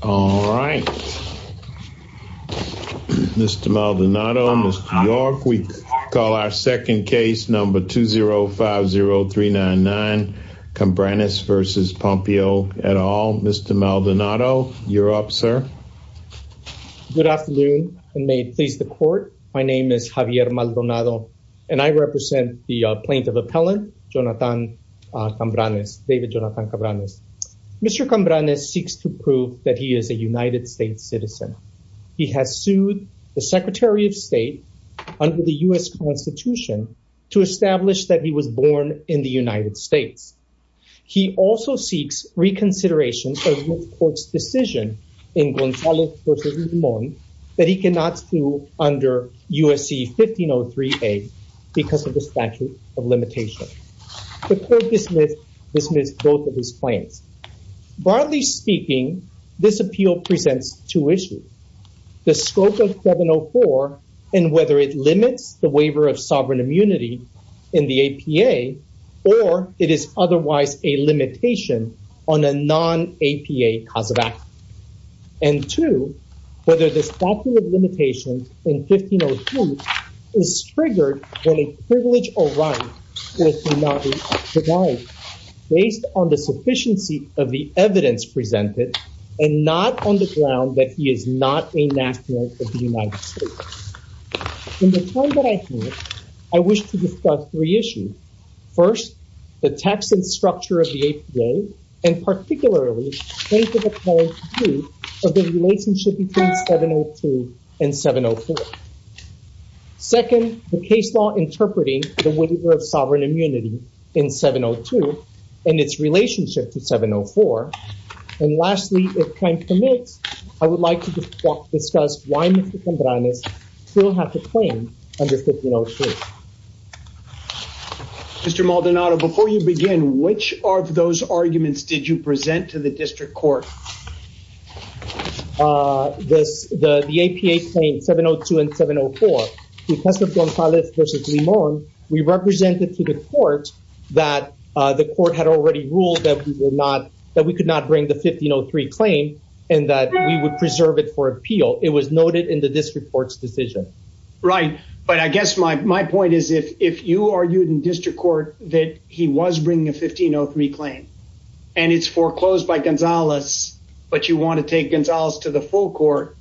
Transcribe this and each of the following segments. All right, Mr. Maldonado, Mr. York, we call our second case number 2050399, Cambranis v. Pompeo et al. Mr. Maldonado, you're up, sir. Good afternoon, and may it please the court, my name is Javier Maldonado, and I represent the plaintiff appellant, Jonathan Cambranis, David Jonathan Cambranis. Mr. Cambranis seeks to prove that he is a United States citizen. He has sued the Secretary of State under the U.S. Constitution to establish that he was born in the United States. He also seeks reconsideration of the court's decision in Gonzalo vs. Guzman that he cannot sue under USC 1503A because of the statute of limitation. The court dismissed both of his claims. Broadly speaking, this appeal presents two issues, the scope of 704 and whether it limits the waiver of sovereign immunity in the APA, or it is otherwise a limitation on a non-APA cause of when a privilege or right is denied based on the sufficiency of the evidence presented, and not on the ground that he is not a national of the United States. In the time that I have, I wish to discuss three issues. First, the text and structure of the APA, and particularly, plaintiff appellant's view of the relationship between 702 and 704. Second, the case law interpreting the waiver of sovereign immunity in 702 and its relationship to 704. And lastly, if time permits, I would like to discuss why Mr. Cambranis still have to claim under 1503. Mr. Maldonado, before you begin, which of those arguments did you present to the district court? The APA claims 702 and 704, because of Gonzalez versus Limon, we represented to the court that the court had already ruled that we could not bring the 1503 claim, and that we would preserve it for appeal. It was noted in the district court's decision. Right, but I guess my point is if you argued in district court that he was bringing a 1503 claim, and it's foreclosed by Gonzalez, but you want to take Gonzalez to the full court,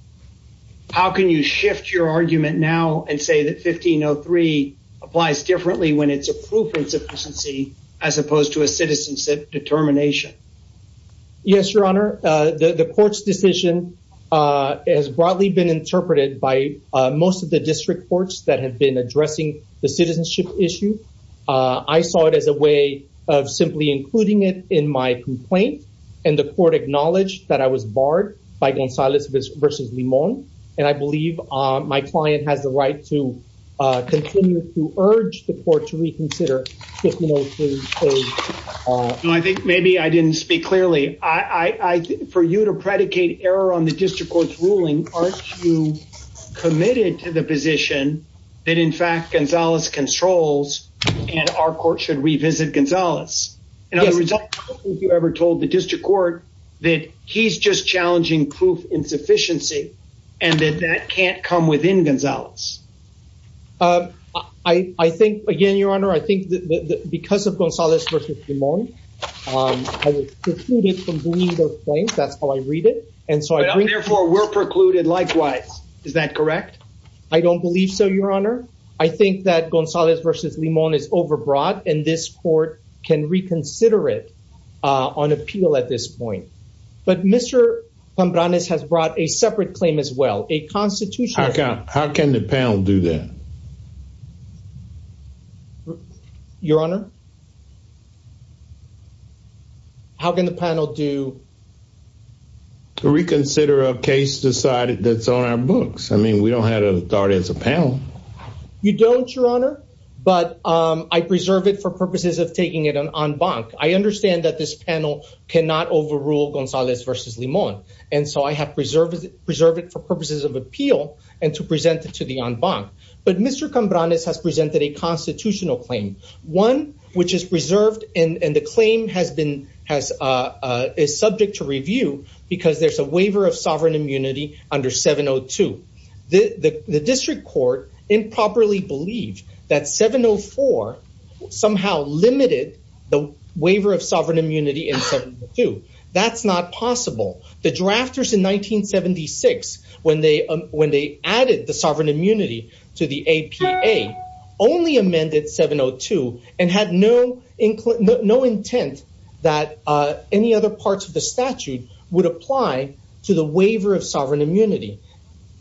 how can you shift your argument now and say that 1503 applies differently when it's a proof insufficiency as opposed to a citizenship determination? Yes, your honor. The court's decision has broadly been interpreted by most of the district courts that have been addressing the citizenship issue. I saw it as a way of simply including it in my complaint, and the court acknowledged that I was barred by Gonzalez versus Limon, and I believe my client has the right to continue to urge the court to reconsider 1503. I think maybe I didn't speak clearly. For you to predicate error on the district court's ruling, aren't you committed to the position that, in fact, Gonzalez controls and our court should revisit Gonzalez? Yes. In other words, I don't think you ever told the district court that he's just challenging proof insufficiency and that that can't come within Gonzalez. I think, again, your honor, I think that because of Gonzalez versus Limon, I was precluded from bringing those claims. That's how I read it, therefore were precluded likewise. Is that correct? I don't believe so, your honor. I think that Gonzalez versus Limon is overbroad, and this court can reconsider it on appeal at this point. But Mr. Cambranes has brought a separate claim as well, a constitutional- How can the panel do that? Your honor? How can the panel do- Reconsider a case decided that's on our books? I mean, we don't have authority as a panel. You don't, your honor, but I preserve it for purposes of taking it en banc. I understand that this panel cannot overrule Gonzalez versus Limon, and so I have preserved it for purposes of appeal and to present it to the en banc. But Mr. Cambranes has presented a constitutional claim, one which is preserved and the claim is subject to review because there's a waiver of sovereign immunity under 702. The district court improperly believed that 704 somehow limited the waiver of sovereign immunity in 702. That's not possible. The drafters in 1976, when they added the sovereign immunity to 702 and had no intent that any other parts of the statute would apply to the waiver of sovereign immunity.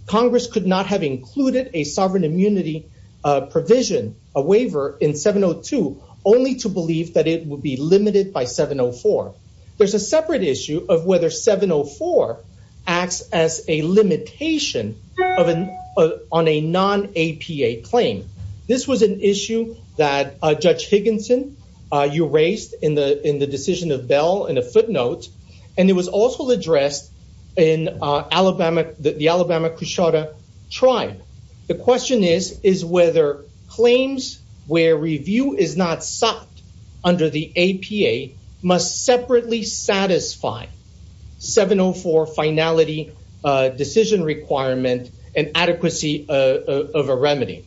Congress could not have included a sovereign immunity provision, a waiver in 702, only to believe that it would be limited by 704. There's a separate issue of whether 704 acts as a limitation on a non-APA claim. This was an issue that Judge Higginson erased in the decision of Bell in a footnote, and it was also addressed in the Alabama Cushota tribe. The question is, is whether claims where review is not sought under the APA must separately satisfy 704 finality decision requirement and adequacy of a remedy?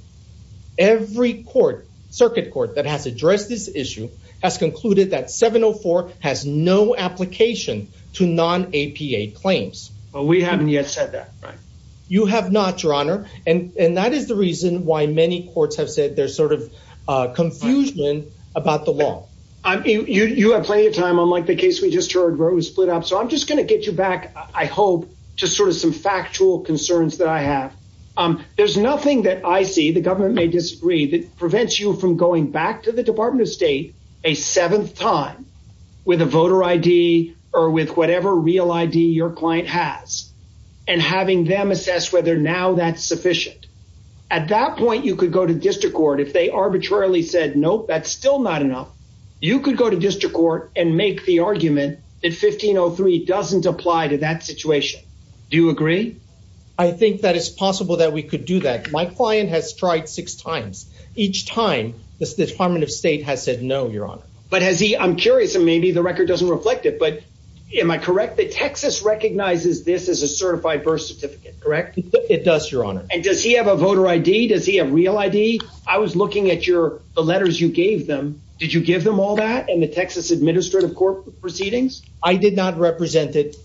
Every circuit court that has addressed this issue has concluded that 704 has no application to non-APA claims. But we haven't yet said that, right? You have not, Your Honor. And that is the reason why many courts have said there's sort of confusion about the law. You have plenty of time, unlike the case we just heard where it was split up. So I'm just going to get you back, I hope, to sort of some factual concerns that I have. There's nothing that I see, the government may disagree, that prevents you from going back to the Department of State a seventh time with a voter ID or with whatever real ID your client has and having them assess whether now that's sufficient. At that point, you could go to district court if they arbitrarily said, nope, that's still not enough. You could go to district court and make the argument that 1503 doesn't apply to that situation. Do you agree? I think that it's possible that we could do that. My client has tried six times. Each time, the Department of State has said no, Your Honor. But has he, I'm curious, and maybe the record doesn't reflect it, but am I correct that Texas recognizes this as a certified birth certificate, correct? It does, Your Honor. And does he have a voter ID? Does he have real ID? I was looking at the letters you gave them. Did you give them all that in the Texas Administrative Court proceedings? I did not represent him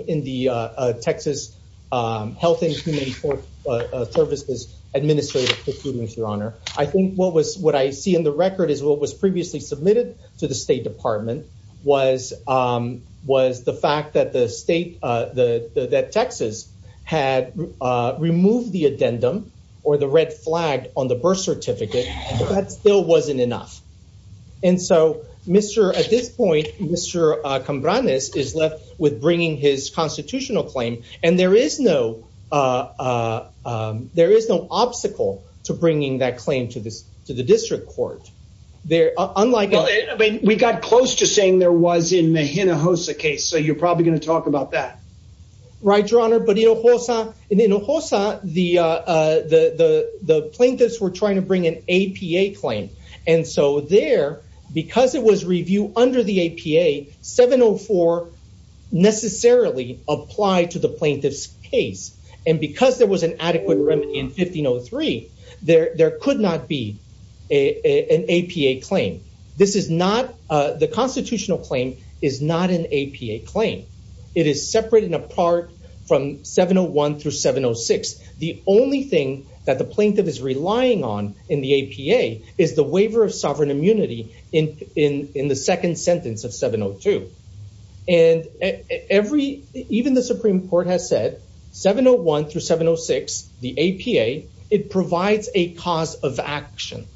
in the Texas Health and Human Services Administrative Procedures, Your Honor. I think what I see in the record is what was previously submitted to the State was the fact that Texas had removed the addendum or the red flag on the birth certificate. That still wasn't enough. At this point, Mr. Cambranes is left with bringing his constitutional claim, and there is no obstacle to bringing that claim to the district court. Well, we got close to saying there was in the Hinojosa case, so you're probably going to talk about that. Right, Your Honor. But in Hinojosa, the plaintiffs were trying to bring an APA claim. And so there, because it was reviewed under the APA, 704 necessarily applied to the plaintiff's and because there was an adequate remedy in 1503, there could not be an APA claim. The constitutional claim is not an APA claim. It is separated and apart from 701 through 706. The only thing that the plaintiff is relying on in the APA is the waiver of sovereign immunity in the second sentence of 702. Even the Supreme Court has said 701 through 706, the APA, it provides a cause of action.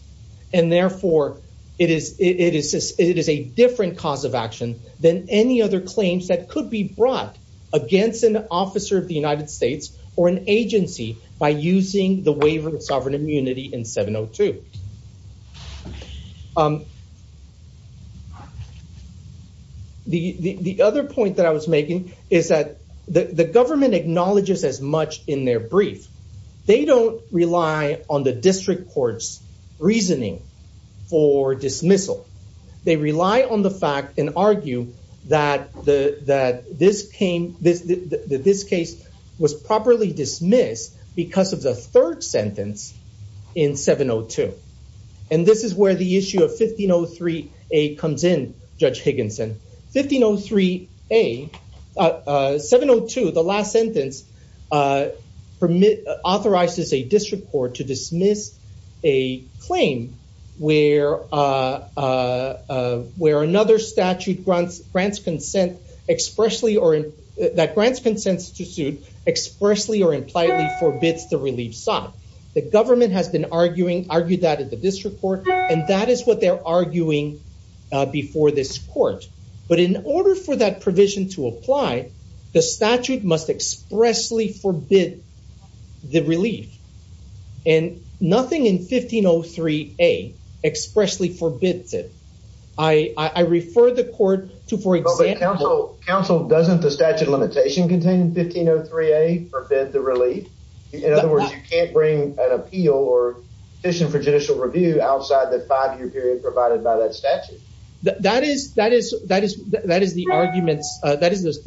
And therefore, it is a different cause of action than any other claims that could be brought against an officer of the United States or an agency by using the APA. The other point that I was making is that the government acknowledges as much in their brief. They don't rely on the district court's reasoning for dismissal. They rely on the fact and argue that this case was properly dismissed because of the third sentence in 702. And this is where the issue of 1503A comes in, Judge Higginson. 1503A, 702, the last sentence authorizes a district court to dismiss a claim where another statute grants consent expressly or that grants consent to suit expressly or impliedly forbids the relief sought. The government has been arguing, argued that at the district court, and that is what they're arguing before this court. But in order for that provision to apply, the statute must expressly forbid the relief. And nothing in 1503A expressly forbids it. I refer the court to, for example- But counsel, doesn't the statute of limitation contained in 1503A forbid the relief? In other words, you can't bring an appeal or petition for judicial review outside the five-year period provided by that statute. That is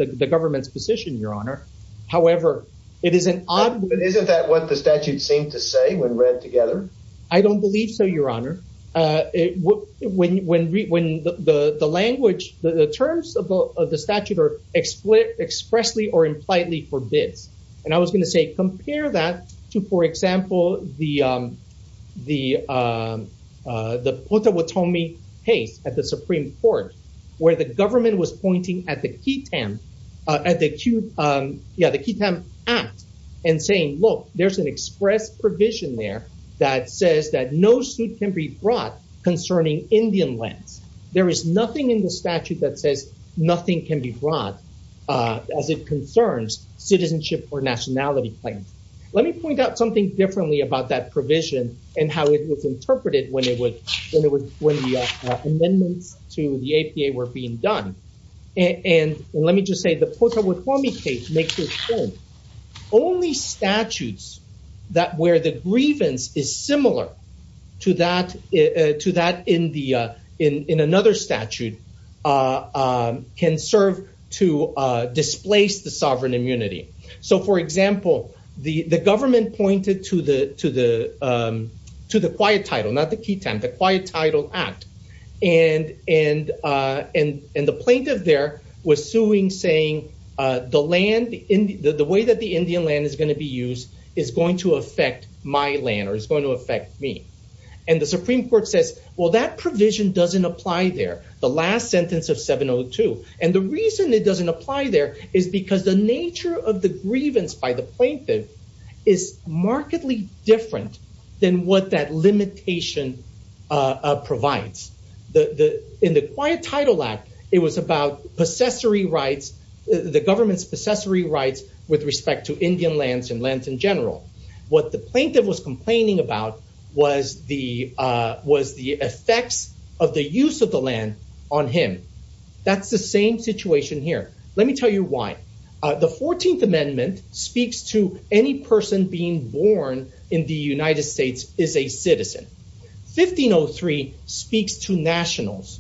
the government's position, Your Honor. However, it is an- Isn't that what the statute seemed to say when read together? I don't believe so, Your Honor. When the language, the terms of the statute are expressly or impliedly forbidden, compare that to, for example, the Potawatomi case at the Supreme Court, where the government was pointing at the QTAM Act and saying, look, there's an express provision there that says that no suit can be brought concerning Indian lands. There is nothing in Let me point out something differently about that provision and how it was interpreted when the amendments to the APA were being done. And let me just say the Potawatomi case makes it clear only statutes where the grievance is similar to that in another statute can serve to displace the sovereign immunity. So, for example, the government pointed to the quiet title, not the QTAM, the Quiet Title Act. And the plaintiff there was suing saying, the way that the Indian land is going to be used is going to affect my land or is going to affect me. And the Supreme Court says, well, that provision doesn't apply there. The last sentence of 702. And the reason it doesn't apply there is because the nature of the grievance by the plaintiff is markedly different than what that limitation provides. In the Quiet Title Act, it was about the government's possessory rights with respect to Indian lands and lands in general. What the plaintiff was complaining about was the effects of the use of the land on him. That's the same situation here. Let me tell you why. The 14th Amendment speaks to any person being born in the United States is a citizen. 1503 speaks to nationals.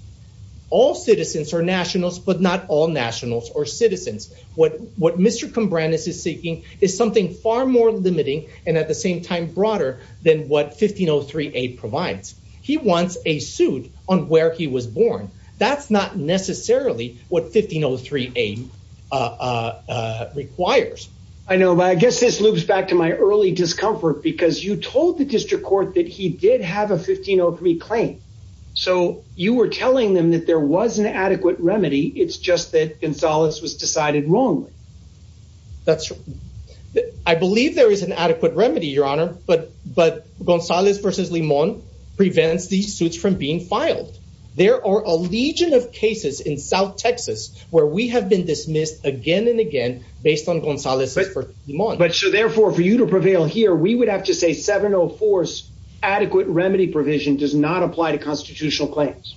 All citizens are nationals, but not all nationals or citizens. What Mr. Combrandus is seeking is something far more limiting and at the same time broader than what 1503A provides. He wants a suit on where he was born. That's not necessarily what 1503A requires. I know, but I guess this loops back to my early discomfort because you told the district court that he did have a 1503 claim. So you were telling them that there was an adequate remedy. It's just that Gonzalez was decided wrongly. That's true. I believe there is an adequate remedy, Your Honor, but Gonzalez v. Limon prevents these suits from being filed. There are a legion of cases in South Texas where we have been dismissed again and again based on Gonzalez v. Limon. But so therefore, for you to prevail here, we would have to say 704's adequate remedy provision does not apply to constitutional claims.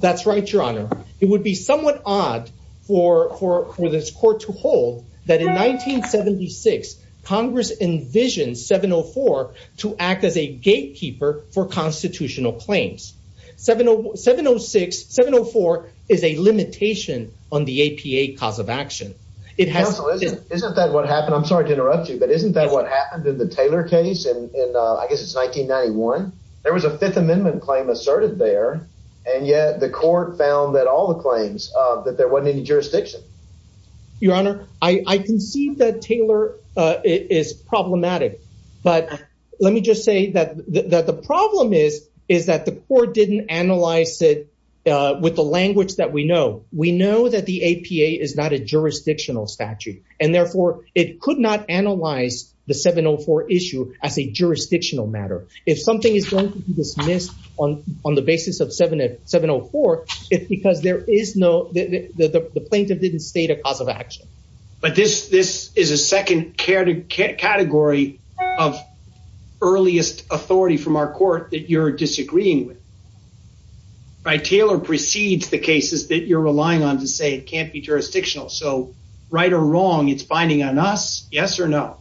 That's right, Your Honor. It would be somewhat odd for this court to hold that in 1976, Congress envisioned 704 to act as a gatekeeper for constitutional claims. 704 is a limitation on the APA cause of action. Counsel, isn't that what happened? I'm sorry to interrupt you, but isn't that what happened in the Taylor case? I guess it's 1991. There was a Fifth Amendment claim asserted there, and yet the court found that all the claims that there wasn't any jurisdiction. Your Honor, I can see that Taylor is problematic, but let me just say that the problem is that the court didn't analyze it with the language that we know. We know that the APA is not a jurisdictional statute, and therefore it could not analyze the 704 issue as a jurisdictional matter. If something is going to be dismissed on the basis of 704, it's because the plaintiff didn't state a cause of action. But this is a second category of earliest authority from our court that you're disagreeing with, right? Taylor precedes the cases that you're relying on to say it can't be jurisdictional. So right or wrong, it's binding on us, yes or no?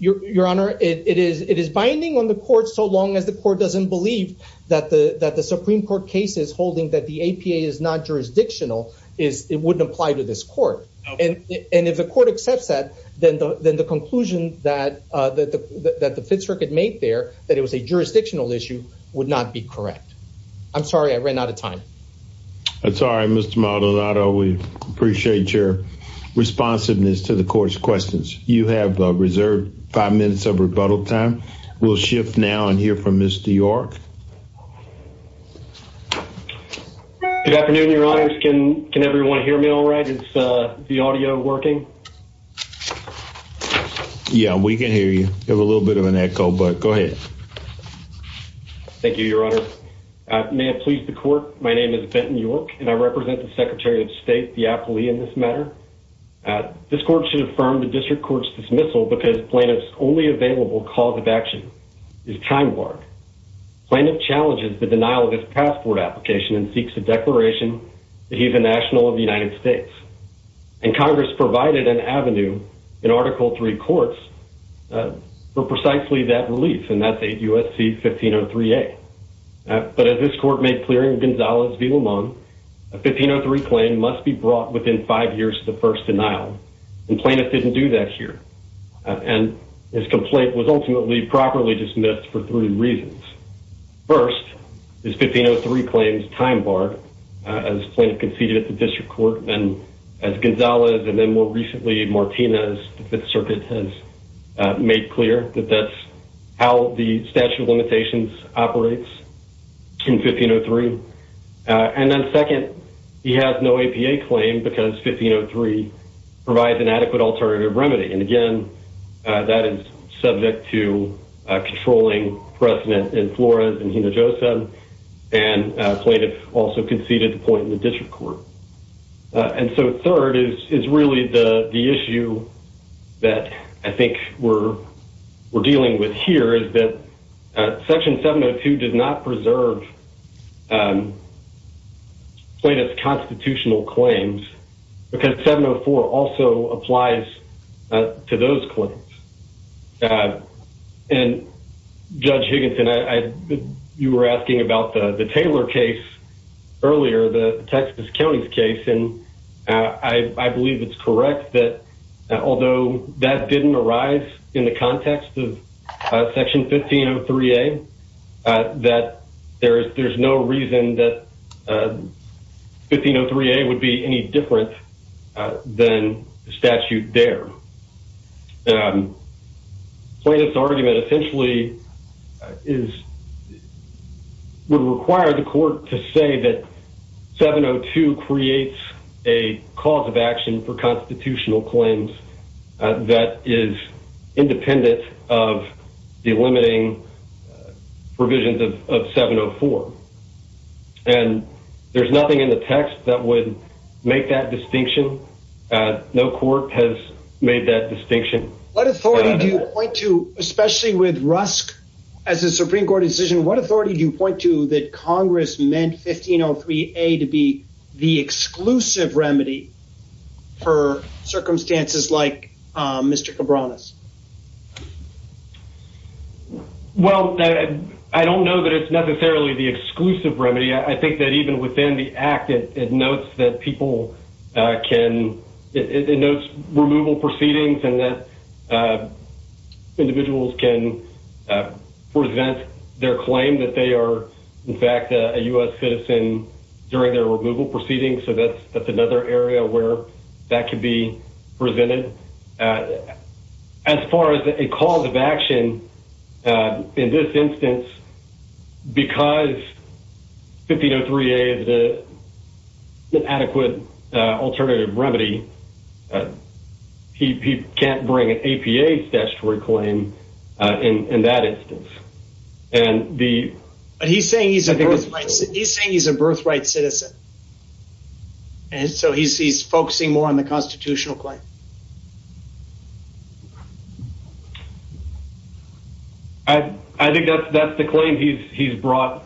Your Honor, it is binding on the court so long as the court doesn't believe that the Supreme Court case is holding that the APA is not jurisdictional, it wouldn't apply to this court. And if the court accepts that, then the conclusion that the Fifth Circuit made there, that it was a jurisdictional issue, would not be correct. I'm sorry I ran out of time. I'm sorry, Mr. Maldonado. We appreciate your reserved five minutes of rebuttal time. We'll shift now and hear from Mr. York. Good afternoon, Your Honor. Can everyone hear me all right? Is the audio working? Yeah, we can hear you. You have a little bit of an echo, but go ahead. Thank you, Your Honor. May it please the court, my name is Benton York, and I represent the Secretary of State, the Apley, in this matter. This court should affirm the district court's dismissal because plaintiff's only available cause of action is time warped. Plaintiff challenges the denial of his passport application and seeks a declaration that he's a national of the United States. And Congress provided an avenue in Article III courts for precisely that relief, and that's USC 1503A. But as this court made clear in Gonzales v. Lamont, a 1503 claim must be brought within five years of the first denial, and plaintiff didn't do that here. And his complaint was ultimately properly dismissed for three reasons. First, his 1503 claim's time barred, as plaintiff conceded at the district court, and as Gonzales, and then more recently Martinez, the Fifth Circuit has made clear that that's how the statute of limitations operates in 1503. And then second, he has no APA claim because 1503 provides an adequate alternative remedy, and again, that is subject to controlling precedent in Flores and Hinojosa, and plaintiff also conceded the point in the district court. And so third is really the issue that I think we're dealing with here, is that Section 702 does not preserve plaintiff's constitutional claims because 704 also applies to those claims. And Judge Higginson, you were asking about the Taylor case earlier, the Texas County's case, and I believe it's correct that although that didn't arise in the context of Section 1503A, that there's no reason that 1503A would be any different than the statute there. Plaintiff's argument essentially would require the court to say that 702 creates a cause of action for constitutional claims that is independent of the limiting provisions of 704. And there's nothing in the text that would make that distinction. No court has made that distinction. What authority do you point to, especially with Rusk as a Supreme Court decision, what authority do you point to that Congress meant 1503A to be the exclusive remedy for circumstances like Mr. Cabranes? Well, I don't know that it's necessarily the exclusive remedy. I think that even within the act, it notes that people can, it notes removal proceedings and that individuals can present their claim that they are, in fact, a U.S. citizen during their removal proceedings. So that's another area where that could be presented. As far as a cause of action, in this instance, because 1503A is an adequate alternative remedy, he can't bring an APA statutory claim in that instance. And the... He's saying he's a birthright citizen. And so he's focusing more on the constitutional claim. I think that's the claim he's brought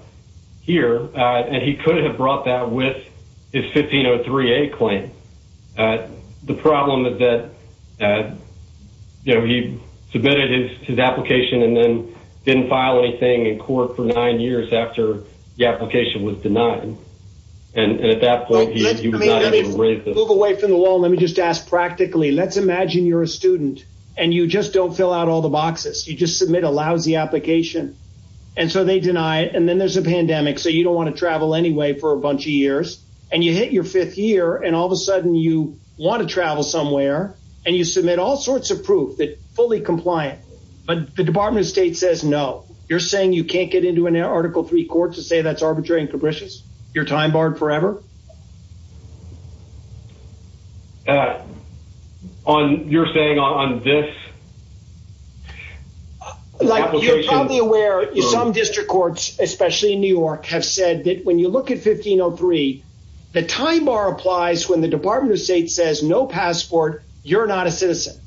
here. And he could have brought that with his 1503A claim. The problem is that, you know, he submitted his application and then didn't file anything in court for nine years after the application was denied. And at that point, he was not able to raise the... Move away from the wall. Let me just ask practically. Let's imagine you're a student and you just don't fill out all the boxes. You just submit a lousy application. And so they deny it. And then there's a pandemic. So you don't want to travel anyway for a bunch of years. And you hit your fifth year and all of a sudden you want to travel somewhere and you submit all sorts of proof that fully compliant. But the Department of State says, no, you're can't get into an Article III court to say that's arbitrary and capricious. You're time barred forever. You're saying on this... Like you're probably aware some district courts, especially in New York, have said that when you look at 1503, the time bar applies when the Department of State says no passport, you're not a citizen.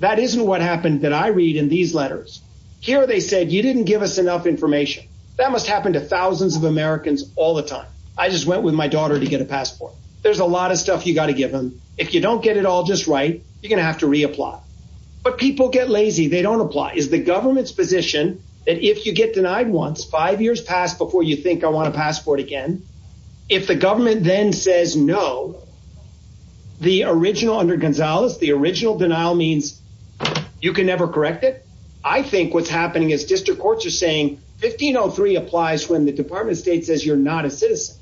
That isn't what happened that I read in these letters. Here they said, you didn't give us enough information. That must happen to thousands of Americans all the time. I just went with my daughter to get a passport. There's a lot of stuff you got to give them. If you don't get it all just right, you're going to have to reapply. But people get lazy. They don't apply. It's the government's position that if you get denied once, five years pass before you think I want a passport again. If the government then says no, the original under Gonzalez, the original denial means you can never correct it. I think what's happening is district courts are saying 1503 applies when the Department of State says you're not a citizen.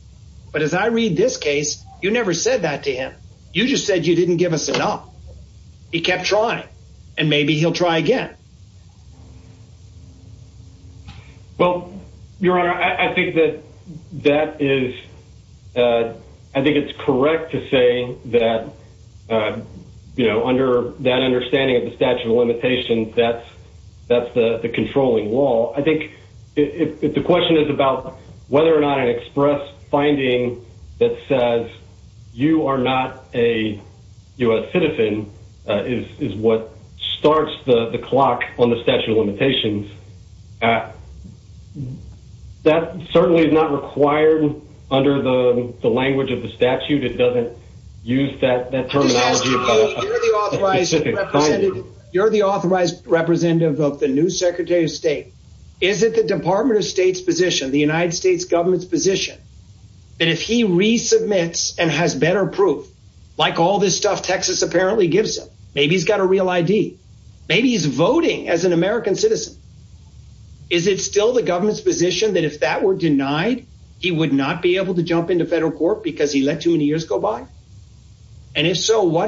But as I read this case, you never said that to him. You just said you didn't give us enough. He kept trying and maybe he'll try again. Well, Your Honor, I think that that is... I think it's correct to say that under that understanding of the statute of limitations, that's the controlling law. I think if the question is about whether or not an express finding that says you are not a U.S. citizen is what starts the clock on the statute of limitations, that certainly is not required under the language of the statute. It doesn't use that terminology. You're the authorized representative of the new Secretary of State. Is it the Department of State's position, the United States government's position, that if he resubmits and has better proof, like all this stuff Texas apparently gives him, he's got a real ID, maybe he's voting as an American citizen, is it still the government's position that if that were denied, he would not be able to jump into federal court because he let too many years go by? And if so,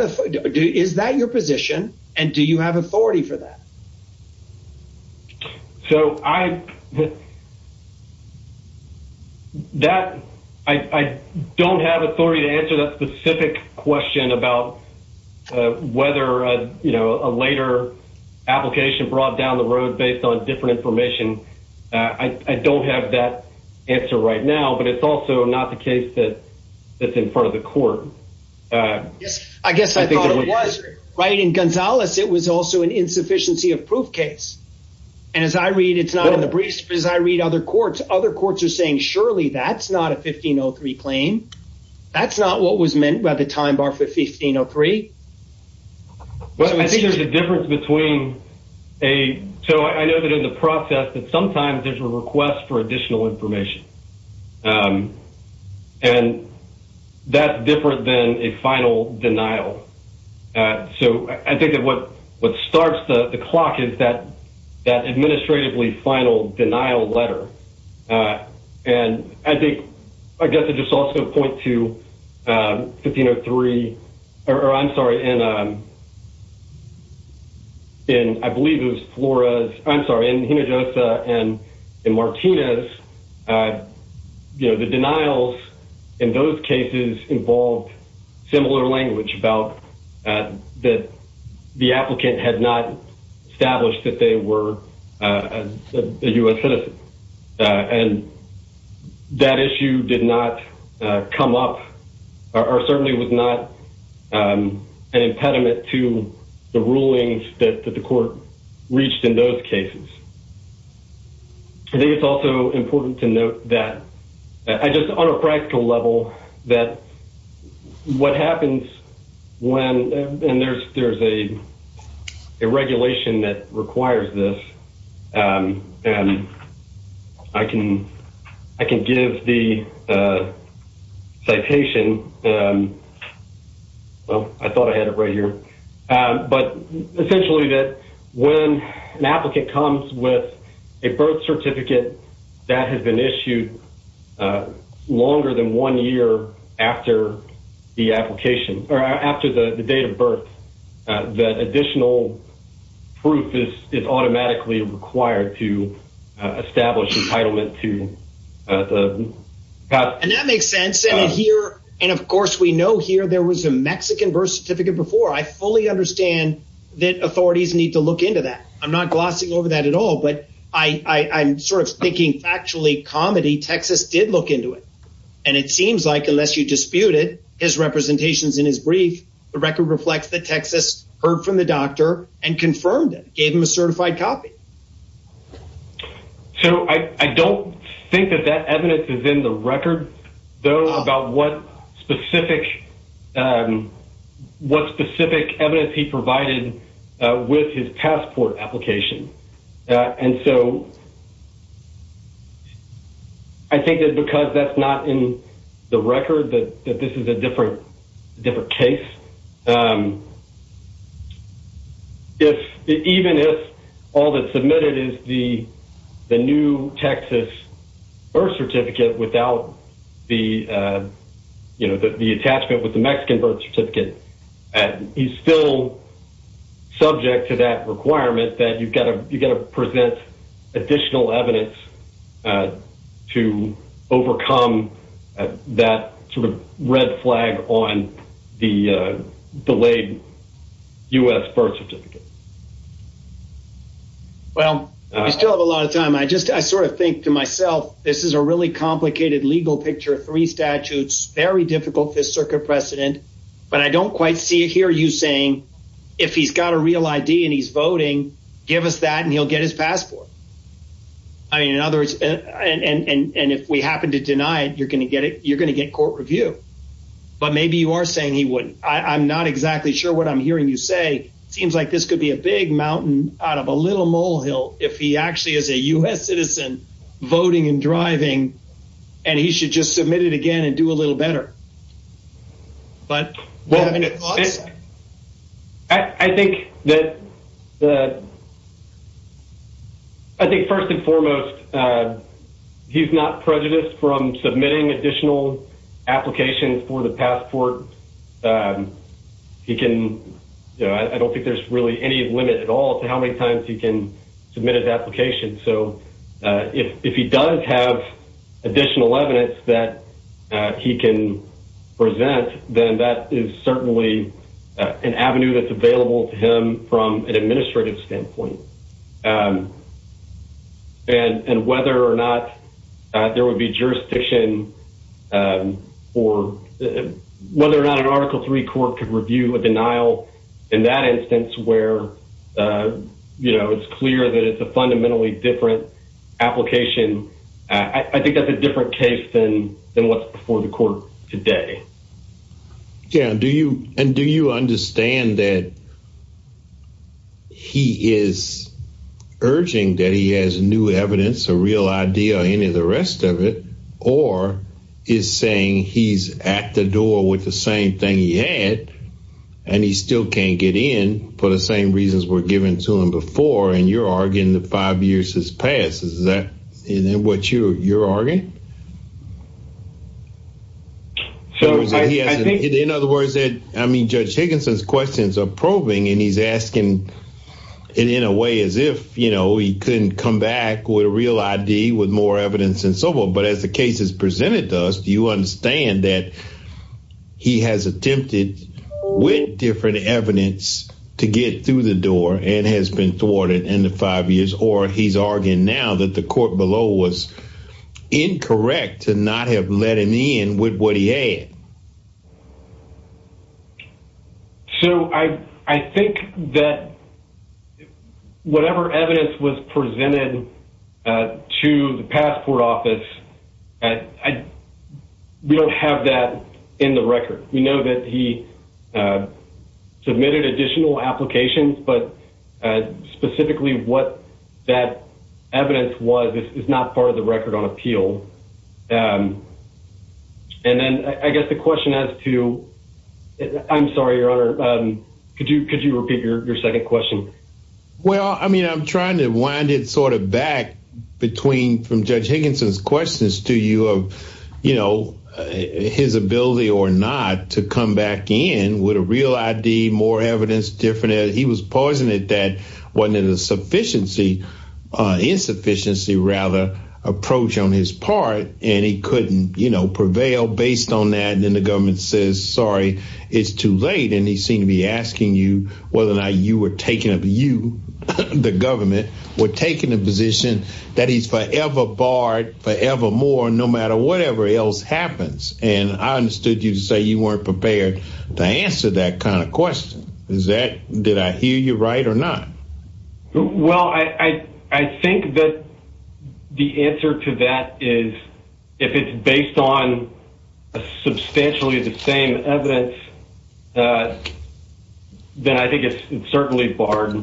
is that your position and do you have authority for that? So, I don't have authority to answer that specific question about whether a later application brought down the road based on different information. I don't have that answer right now, but it's also not the case that's in front of the court. I guess I thought it was. In Gonzalez, it was also an insufficiency of proof case. And as I read, it's not in the briefs, but as I read other courts, other courts are saying, surely that's not a 1503 claim. That's not what was meant by the time bar for 1503. Well, I think there's a difference between a, so I know that in the process that sometimes there's a request for additional information. And that's different than a final denial. And so, I think that what starts the clock is that administratively final denial letter. And I think, I guess I just also point to 1503, or I'm sorry, in I believe it was Flores, I'm sorry, in Hinojosa and in Martinez, you know, the denials in those cases involved similar language about that the applicant had not established that they were a U.S. citizen. And that issue did not come up, or certainly was not an impediment to the rulings that the court reached in those cases. I think it's also important to note that, just on a practical level, that what happens when, and there's a regulation that requires this, and I can give the citation, well, I thought I had it right here, but essentially that when an applicant comes with a birth certificate that has been issued longer than one year after the application, or after the date of birth, that additional proof is automatically required to establish entitlement to the... And that makes sense. And here, and of course, we know here there was a Mexican birth certificate before. I fully understand that authorities need to look into that. I'm not glossing over that at all, but I'm sort of thinking factually, comedy, Texas did look into it. And it seems like, unless you dispute it, his representations in his brief, the record reflects that Texas heard from the doctor and confirmed it, gave him a certified copy. So I don't think that that evidence is in the record, though, about what specific evidence he provided with his passport application. And so I think that because that's not in the record, that this is a different case. But even if all that's submitted is the new Texas birth certificate without the attachment with the Mexican birth certificate, he's still subject to that requirement that you've got to delayed U.S. birth certificate. Well, we still have a lot of time. I just, I sort of think to myself, this is a really complicated legal picture, three statutes, very difficult, this circuit precedent. But I don't quite see it here. You saying, if he's got a real ID and he's voting, give us that and he'll get his passport. I mean, in other words, and if we happen to deny it, you're going to get it, you're going to get court review. But maybe you are saying he wouldn't. I'm not exactly sure what I'm hearing you say. Seems like this could be a big mountain out of a little molehill if he actually is a U.S. citizen voting and driving and he should just submit it again and do a little better. But I think that the I think first and foremost, he's not prejudiced from submitting additional applications for the passport. He can I don't think there's really any limit at all to how many times he can submit an application. So if he does have additional evidence that he can present, then that is certainly an avenue that's available to him from an administrative standpoint. And whether or not there would be jurisdiction or whether or not an Article III court could review a denial in that instance where, you know, it's clear that it's a fundamentally different application. I think that's a different case than what's before the court today. Yeah. And do you and do you understand that he is urging that he has new evidence or real idea or any of the rest of it or is saying he's at the door with the same thing he had and he still can't get in for the same reasons were given to him before? And you're arguing the five years has passed. Is that what you're arguing? In other words, I mean, Judge Higginson's questions are probing and he's asking it in a way as if, you know, he couldn't come back with a real ID with more evidence and so forth. But as the case is presented to us, do you understand that he has attempted with different evidence to get through the door and has been thwarted in the five years or he's arguing now that the court below was incorrect to not have let him in with what he had? So I think that whatever evidence was presented to the passport office, I we don't have that in the record. We know that he submitted additional applications, but specifically what that evidence was is not part of the record on appeal. And then I guess the question as to I'm sorry, your honor, could you could you repeat your second question? Well, I mean, I'm trying to wind it sort of back between from Judge Higginson's questions to you of, you know, his ability or not to come back in with a real ID, more evidence, different. He was pausing it that wasn't in a sufficiency insufficiency rather approach on his part. And he couldn't prevail based on that. And then the government says, sorry, it's too early to be asking you whether or not you were taking up. You, the government were taking a position that he's forever barred forevermore, no matter whatever else happens. And I understood you to say you weren't prepared to answer that kind of question. Is that did I hear you right or not? Well, I think that the answer to that is if it's based on substantially the same evidence then I think it's certainly barred.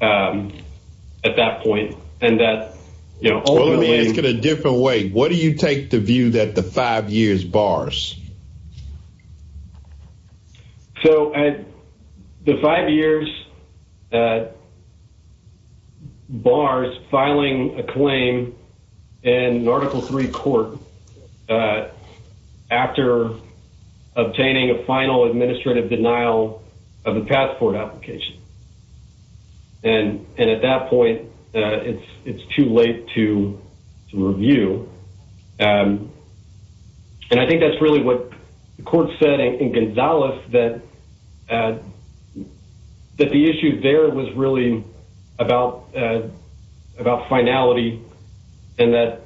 At that point, and that, you know, only in a different way, what do you take the view that the five years bars? So the five years bars filing a claim in Article three court after obtaining a final administrative denial of the passport application. And, and at that point it's, it's too late to review. And I think that's really what the court setting in Gonzalez that, that the issue there was really about, about finality and that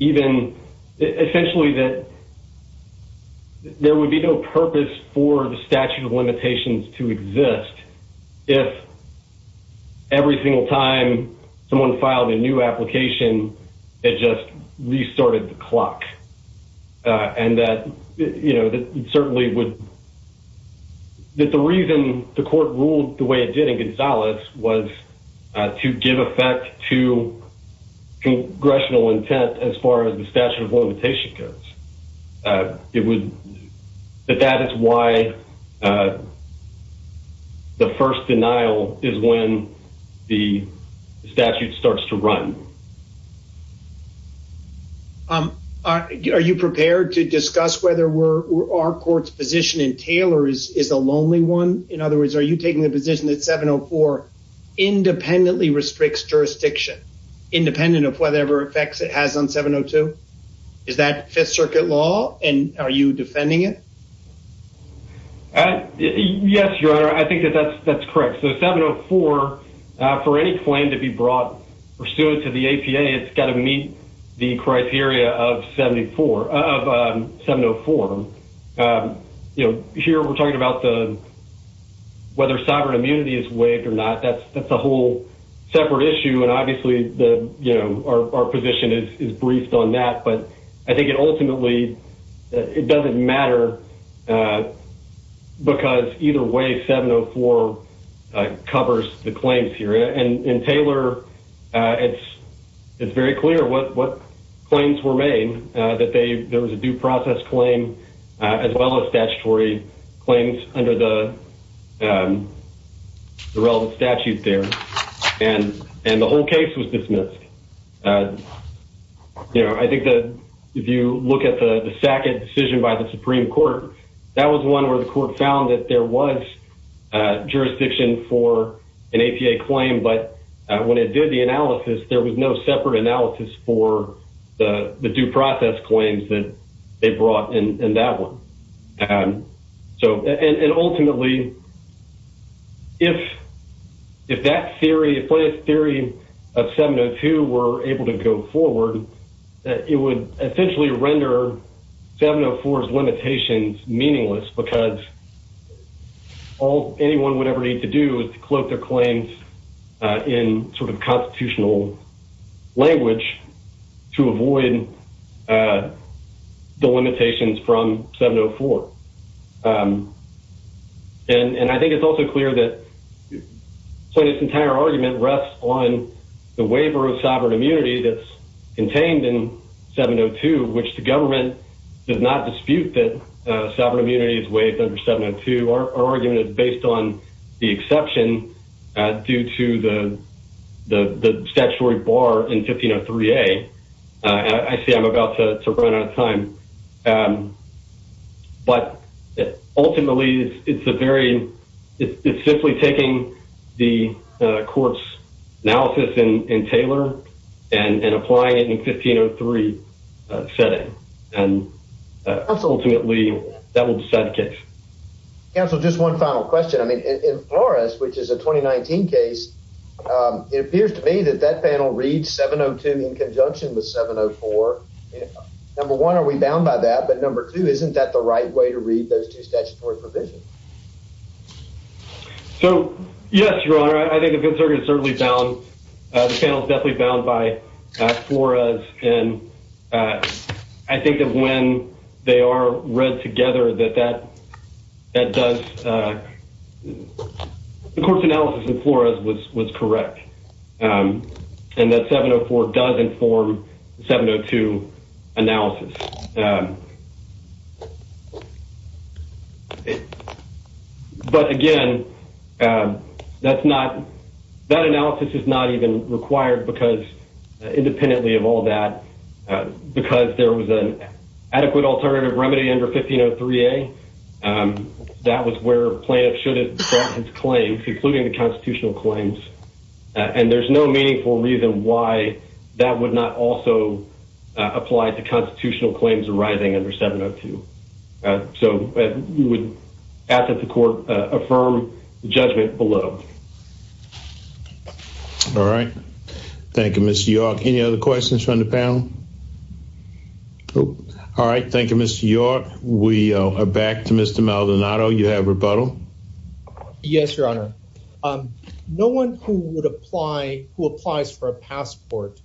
even essentially that there would be no purpose for the statute of limitations to exist. If every single time someone filed a new application, it just restarted the clock. And that, you know, that certainly would that the reason the court ruled the way it did in Gonzalez was to give effect to congressional intent as far as the statute of limitation goes. It would, but that is why the first denial is when the statute starts to run. Are you prepared to discuss whether we're, our court's position in Taylor is a lonely one? In other words, are you taking the position that 704 independently restricts jurisdiction independent of whatever effects it has on 702? Is that fifth circuit law and are you defending it? Yes, your honor. I think that that's, that's correct. So 704 for any claim to be brought pursuant to the APA, it's got to meet the criteria of 74 of 704, you know, here we're talking about the, whether sovereign immunity is waived or not. That's, that's a whole separate issue. And obviously the, you know, our position is briefed on that, but I think it ultimately, it doesn't matter because either way, 704 covers the claims here and in Taylor it's, it's very clear what, what claims were made that they, there was a due process claim as well as statutory claims under the, the relevant statute there. And, and the whole case was dismissed. You know, I think that if you look at the SACID decision by the Supreme court, that was one where the court found that there was a jurisdiction for an APA claim, but when it did the analysis, there was no separate analysis for the due process claims that they brought in that one. So, and ultimately, if, if that theory of 702 were able to go forward, that it would essentially render 704's limitations meaningless because all anyone would ever need to do is to cloak their claims in sort of constitutional language to avoid the limitations from 704. And, and I think it's also clear that this entire argument rests on the waiver of sovereign immunity that's contained in 702, which the government does not dispute that sovereign immunity is waived under 702. Our statutory bar in 1503A, I see I'm about to run out of time, but ultimately it's a very, it's simply taking the court's analysis in, in Taylor and applying it in 1503 setting. And ultimately that will decide the case. Counsel, just one final question. In Flores, which is a 2019 case, it appears to me that that panel reads 702 in conjunction with 704. Number one, are we bound by that? But number two, isn't that the right way to read those two statutory provisions? So, yes, your honor, I think it's certainly bound. The panel is definitely Flores. And I think that when they are read together, that, that, that does, the court's analysis in Flores was, was correct. And that 704 does inform 702 analysis. But again, that's not, that analysis is not even required because independently of all that, because there was an adequate alternative remedy under 1503A, that was where plaintiff should have brought his claims, including the constitutional claims. And there's no meaningful reason why that would not also apply to constitutional claims arising under 702. So we would ask that the court affirm the judgment below. All right. Thank you, Mr. York. Any other questions from the panel? All right. Thank you, Mr. York. We are back to Mr. Maldonado. You have rebuttal. Yes, your honor. No one who would apply, who applies for a passport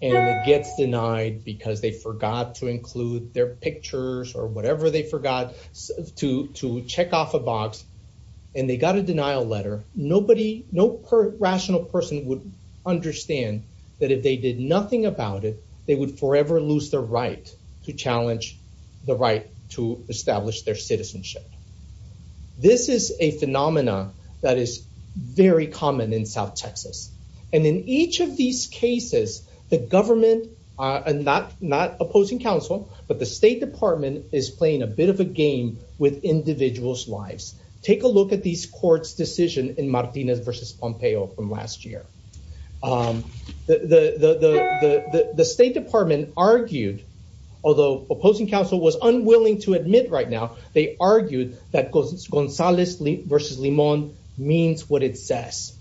and it gets denied because they forgot to include their pictures or whatever they forgot to, to check off a box and they got a denial letter. Nobody, no rational person would understand that if they did nothing about it, they would forever lose their right to challenge the right to establish their citizenship. This is a phenomena that is very common in South Texas. And in each of these cases, the government and not opposing counsel, but the state department is playing a bit of a game with individuals' lives. Take a look at these courts decision in Martinez versus Pompeo from last year. The state department argued, although opposing counsel was unwilling to admit right now, they argued that Gonzalez versus Limon means what it says.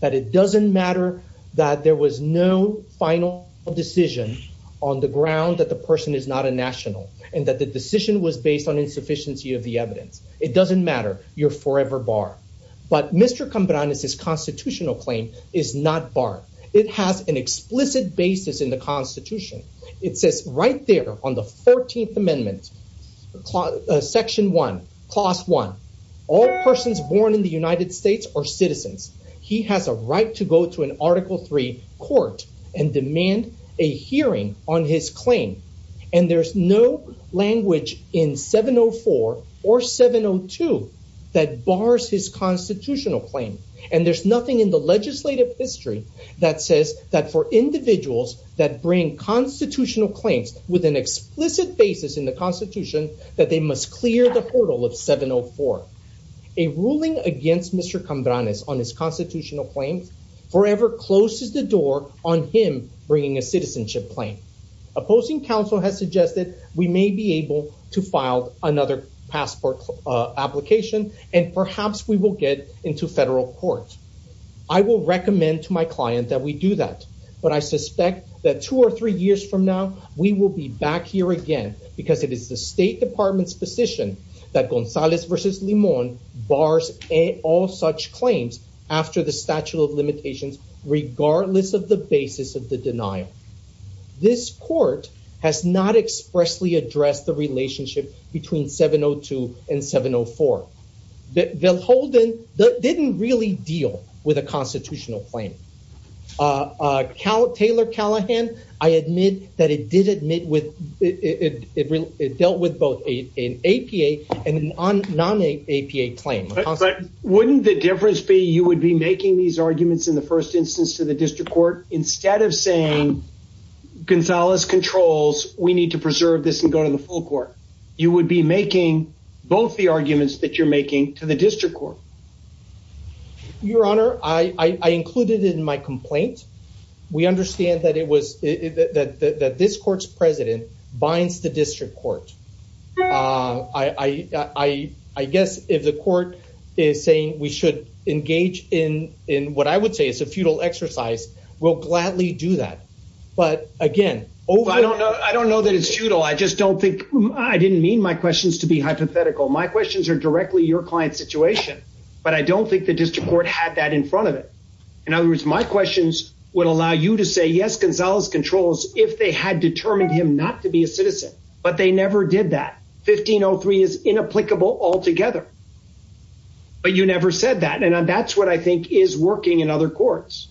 That it doesn't matter that there was no final decision on the ground that the person is not a national and that the decision was based on insufficiency of the evidence. It doesn't matter. You're forever barred. But Mr. Cambranes' constitutional claim is not barred. It has an explicit basis in the constitution. It says right there on the 14th amendment, section one, clause one, all persons born in the United States are citizens. He has a right to go to an article three court and demand a hearing on his claim. And there's no language in 704 or 702 that bars his constitutional claim. And there's nothing in the legislative history that says that for individuals that bring constitutional claims with an explicit basis in the constitution, that they must clear the portal of 704. A ruling against Mr. Cambranes on his constitutional claims forever closes the door on him bringing a citizenship claim. Opposing counsel has suggested we may be able to file another passport application and perhaps we will get into federal court. I will recommend to my client that we do that, but I suspect that two or three years from now, we will be back here again because it is the state department's position that Gonzalez versus Limon bars all such claims after the statute of limitations, regardless of the basis of the denial. This court has not expressly addressed the relationship between 702 and 704. They'll hold in that didn't really deal with a constitutional claim. Taylor Callahan, I admit that it did admit with it. It dealt with both an APA and non APA claim. But wouldn't the difference be you would be making these arguments in the first instance to the district court instead of saying Gonzalez controls, we need to preserve this and go to the court. You would be making both the arguments that you're making to the district court. Your Honor, I included in my complaint. We understand that it was that this court's president binds the district court. I guess if the court is saying we should engage in what I would say is a futile exercise, we'll gladly do that. But again, I don't know. I don't know that it's futile. I just don't think I didn't mean my questions to be hypothetical. My questions are directly your client situation. But I don't think the district court had that in front of it. In other words, my questions would allow you to say yes, Gonzalez controls if they had determined him not to be a citizen. But they never did that. 1503 is inapplicable altogether. But you never said that. And that's what I think is working in other courts.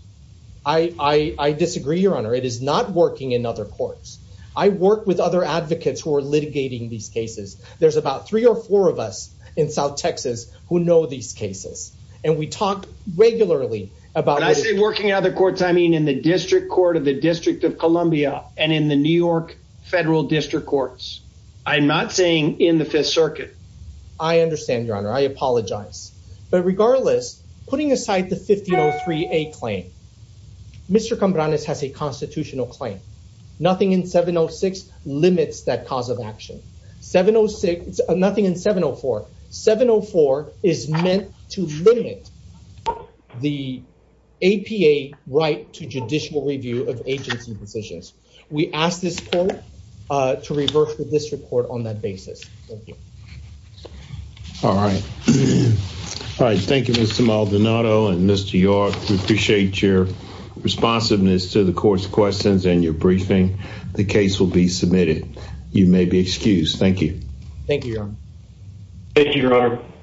I disagree, Your Honor. It is not working in other courts. I work with other advocates who are litigating these cases. There's about three or four of us in South Texas who know these cases. And we talk regularly about working other courts. I mean, in the district court of the District of Columbia and in the New York Federal District Courts, I'm not saying in the Fifth Circuit. I understand, Your Honor. I apologize. But regardless, putting aside the 1503A claim, Mr. Cambranes has a constitutional claim. Nothing in 706 limits that cause of action. Nothing in 704. 704 is meant to limit the APA right to judicial review of agency positions. We ask this court to reverse the district court on that basis. All right. All right. Thank you, Mr. Maldonado and Mr. York. We appreciate your responsiveness to the court's questions and your briefing. The case will be submitted. You may be excused. Thank you. Thank you, Your Honor. Thank you, Your Honor.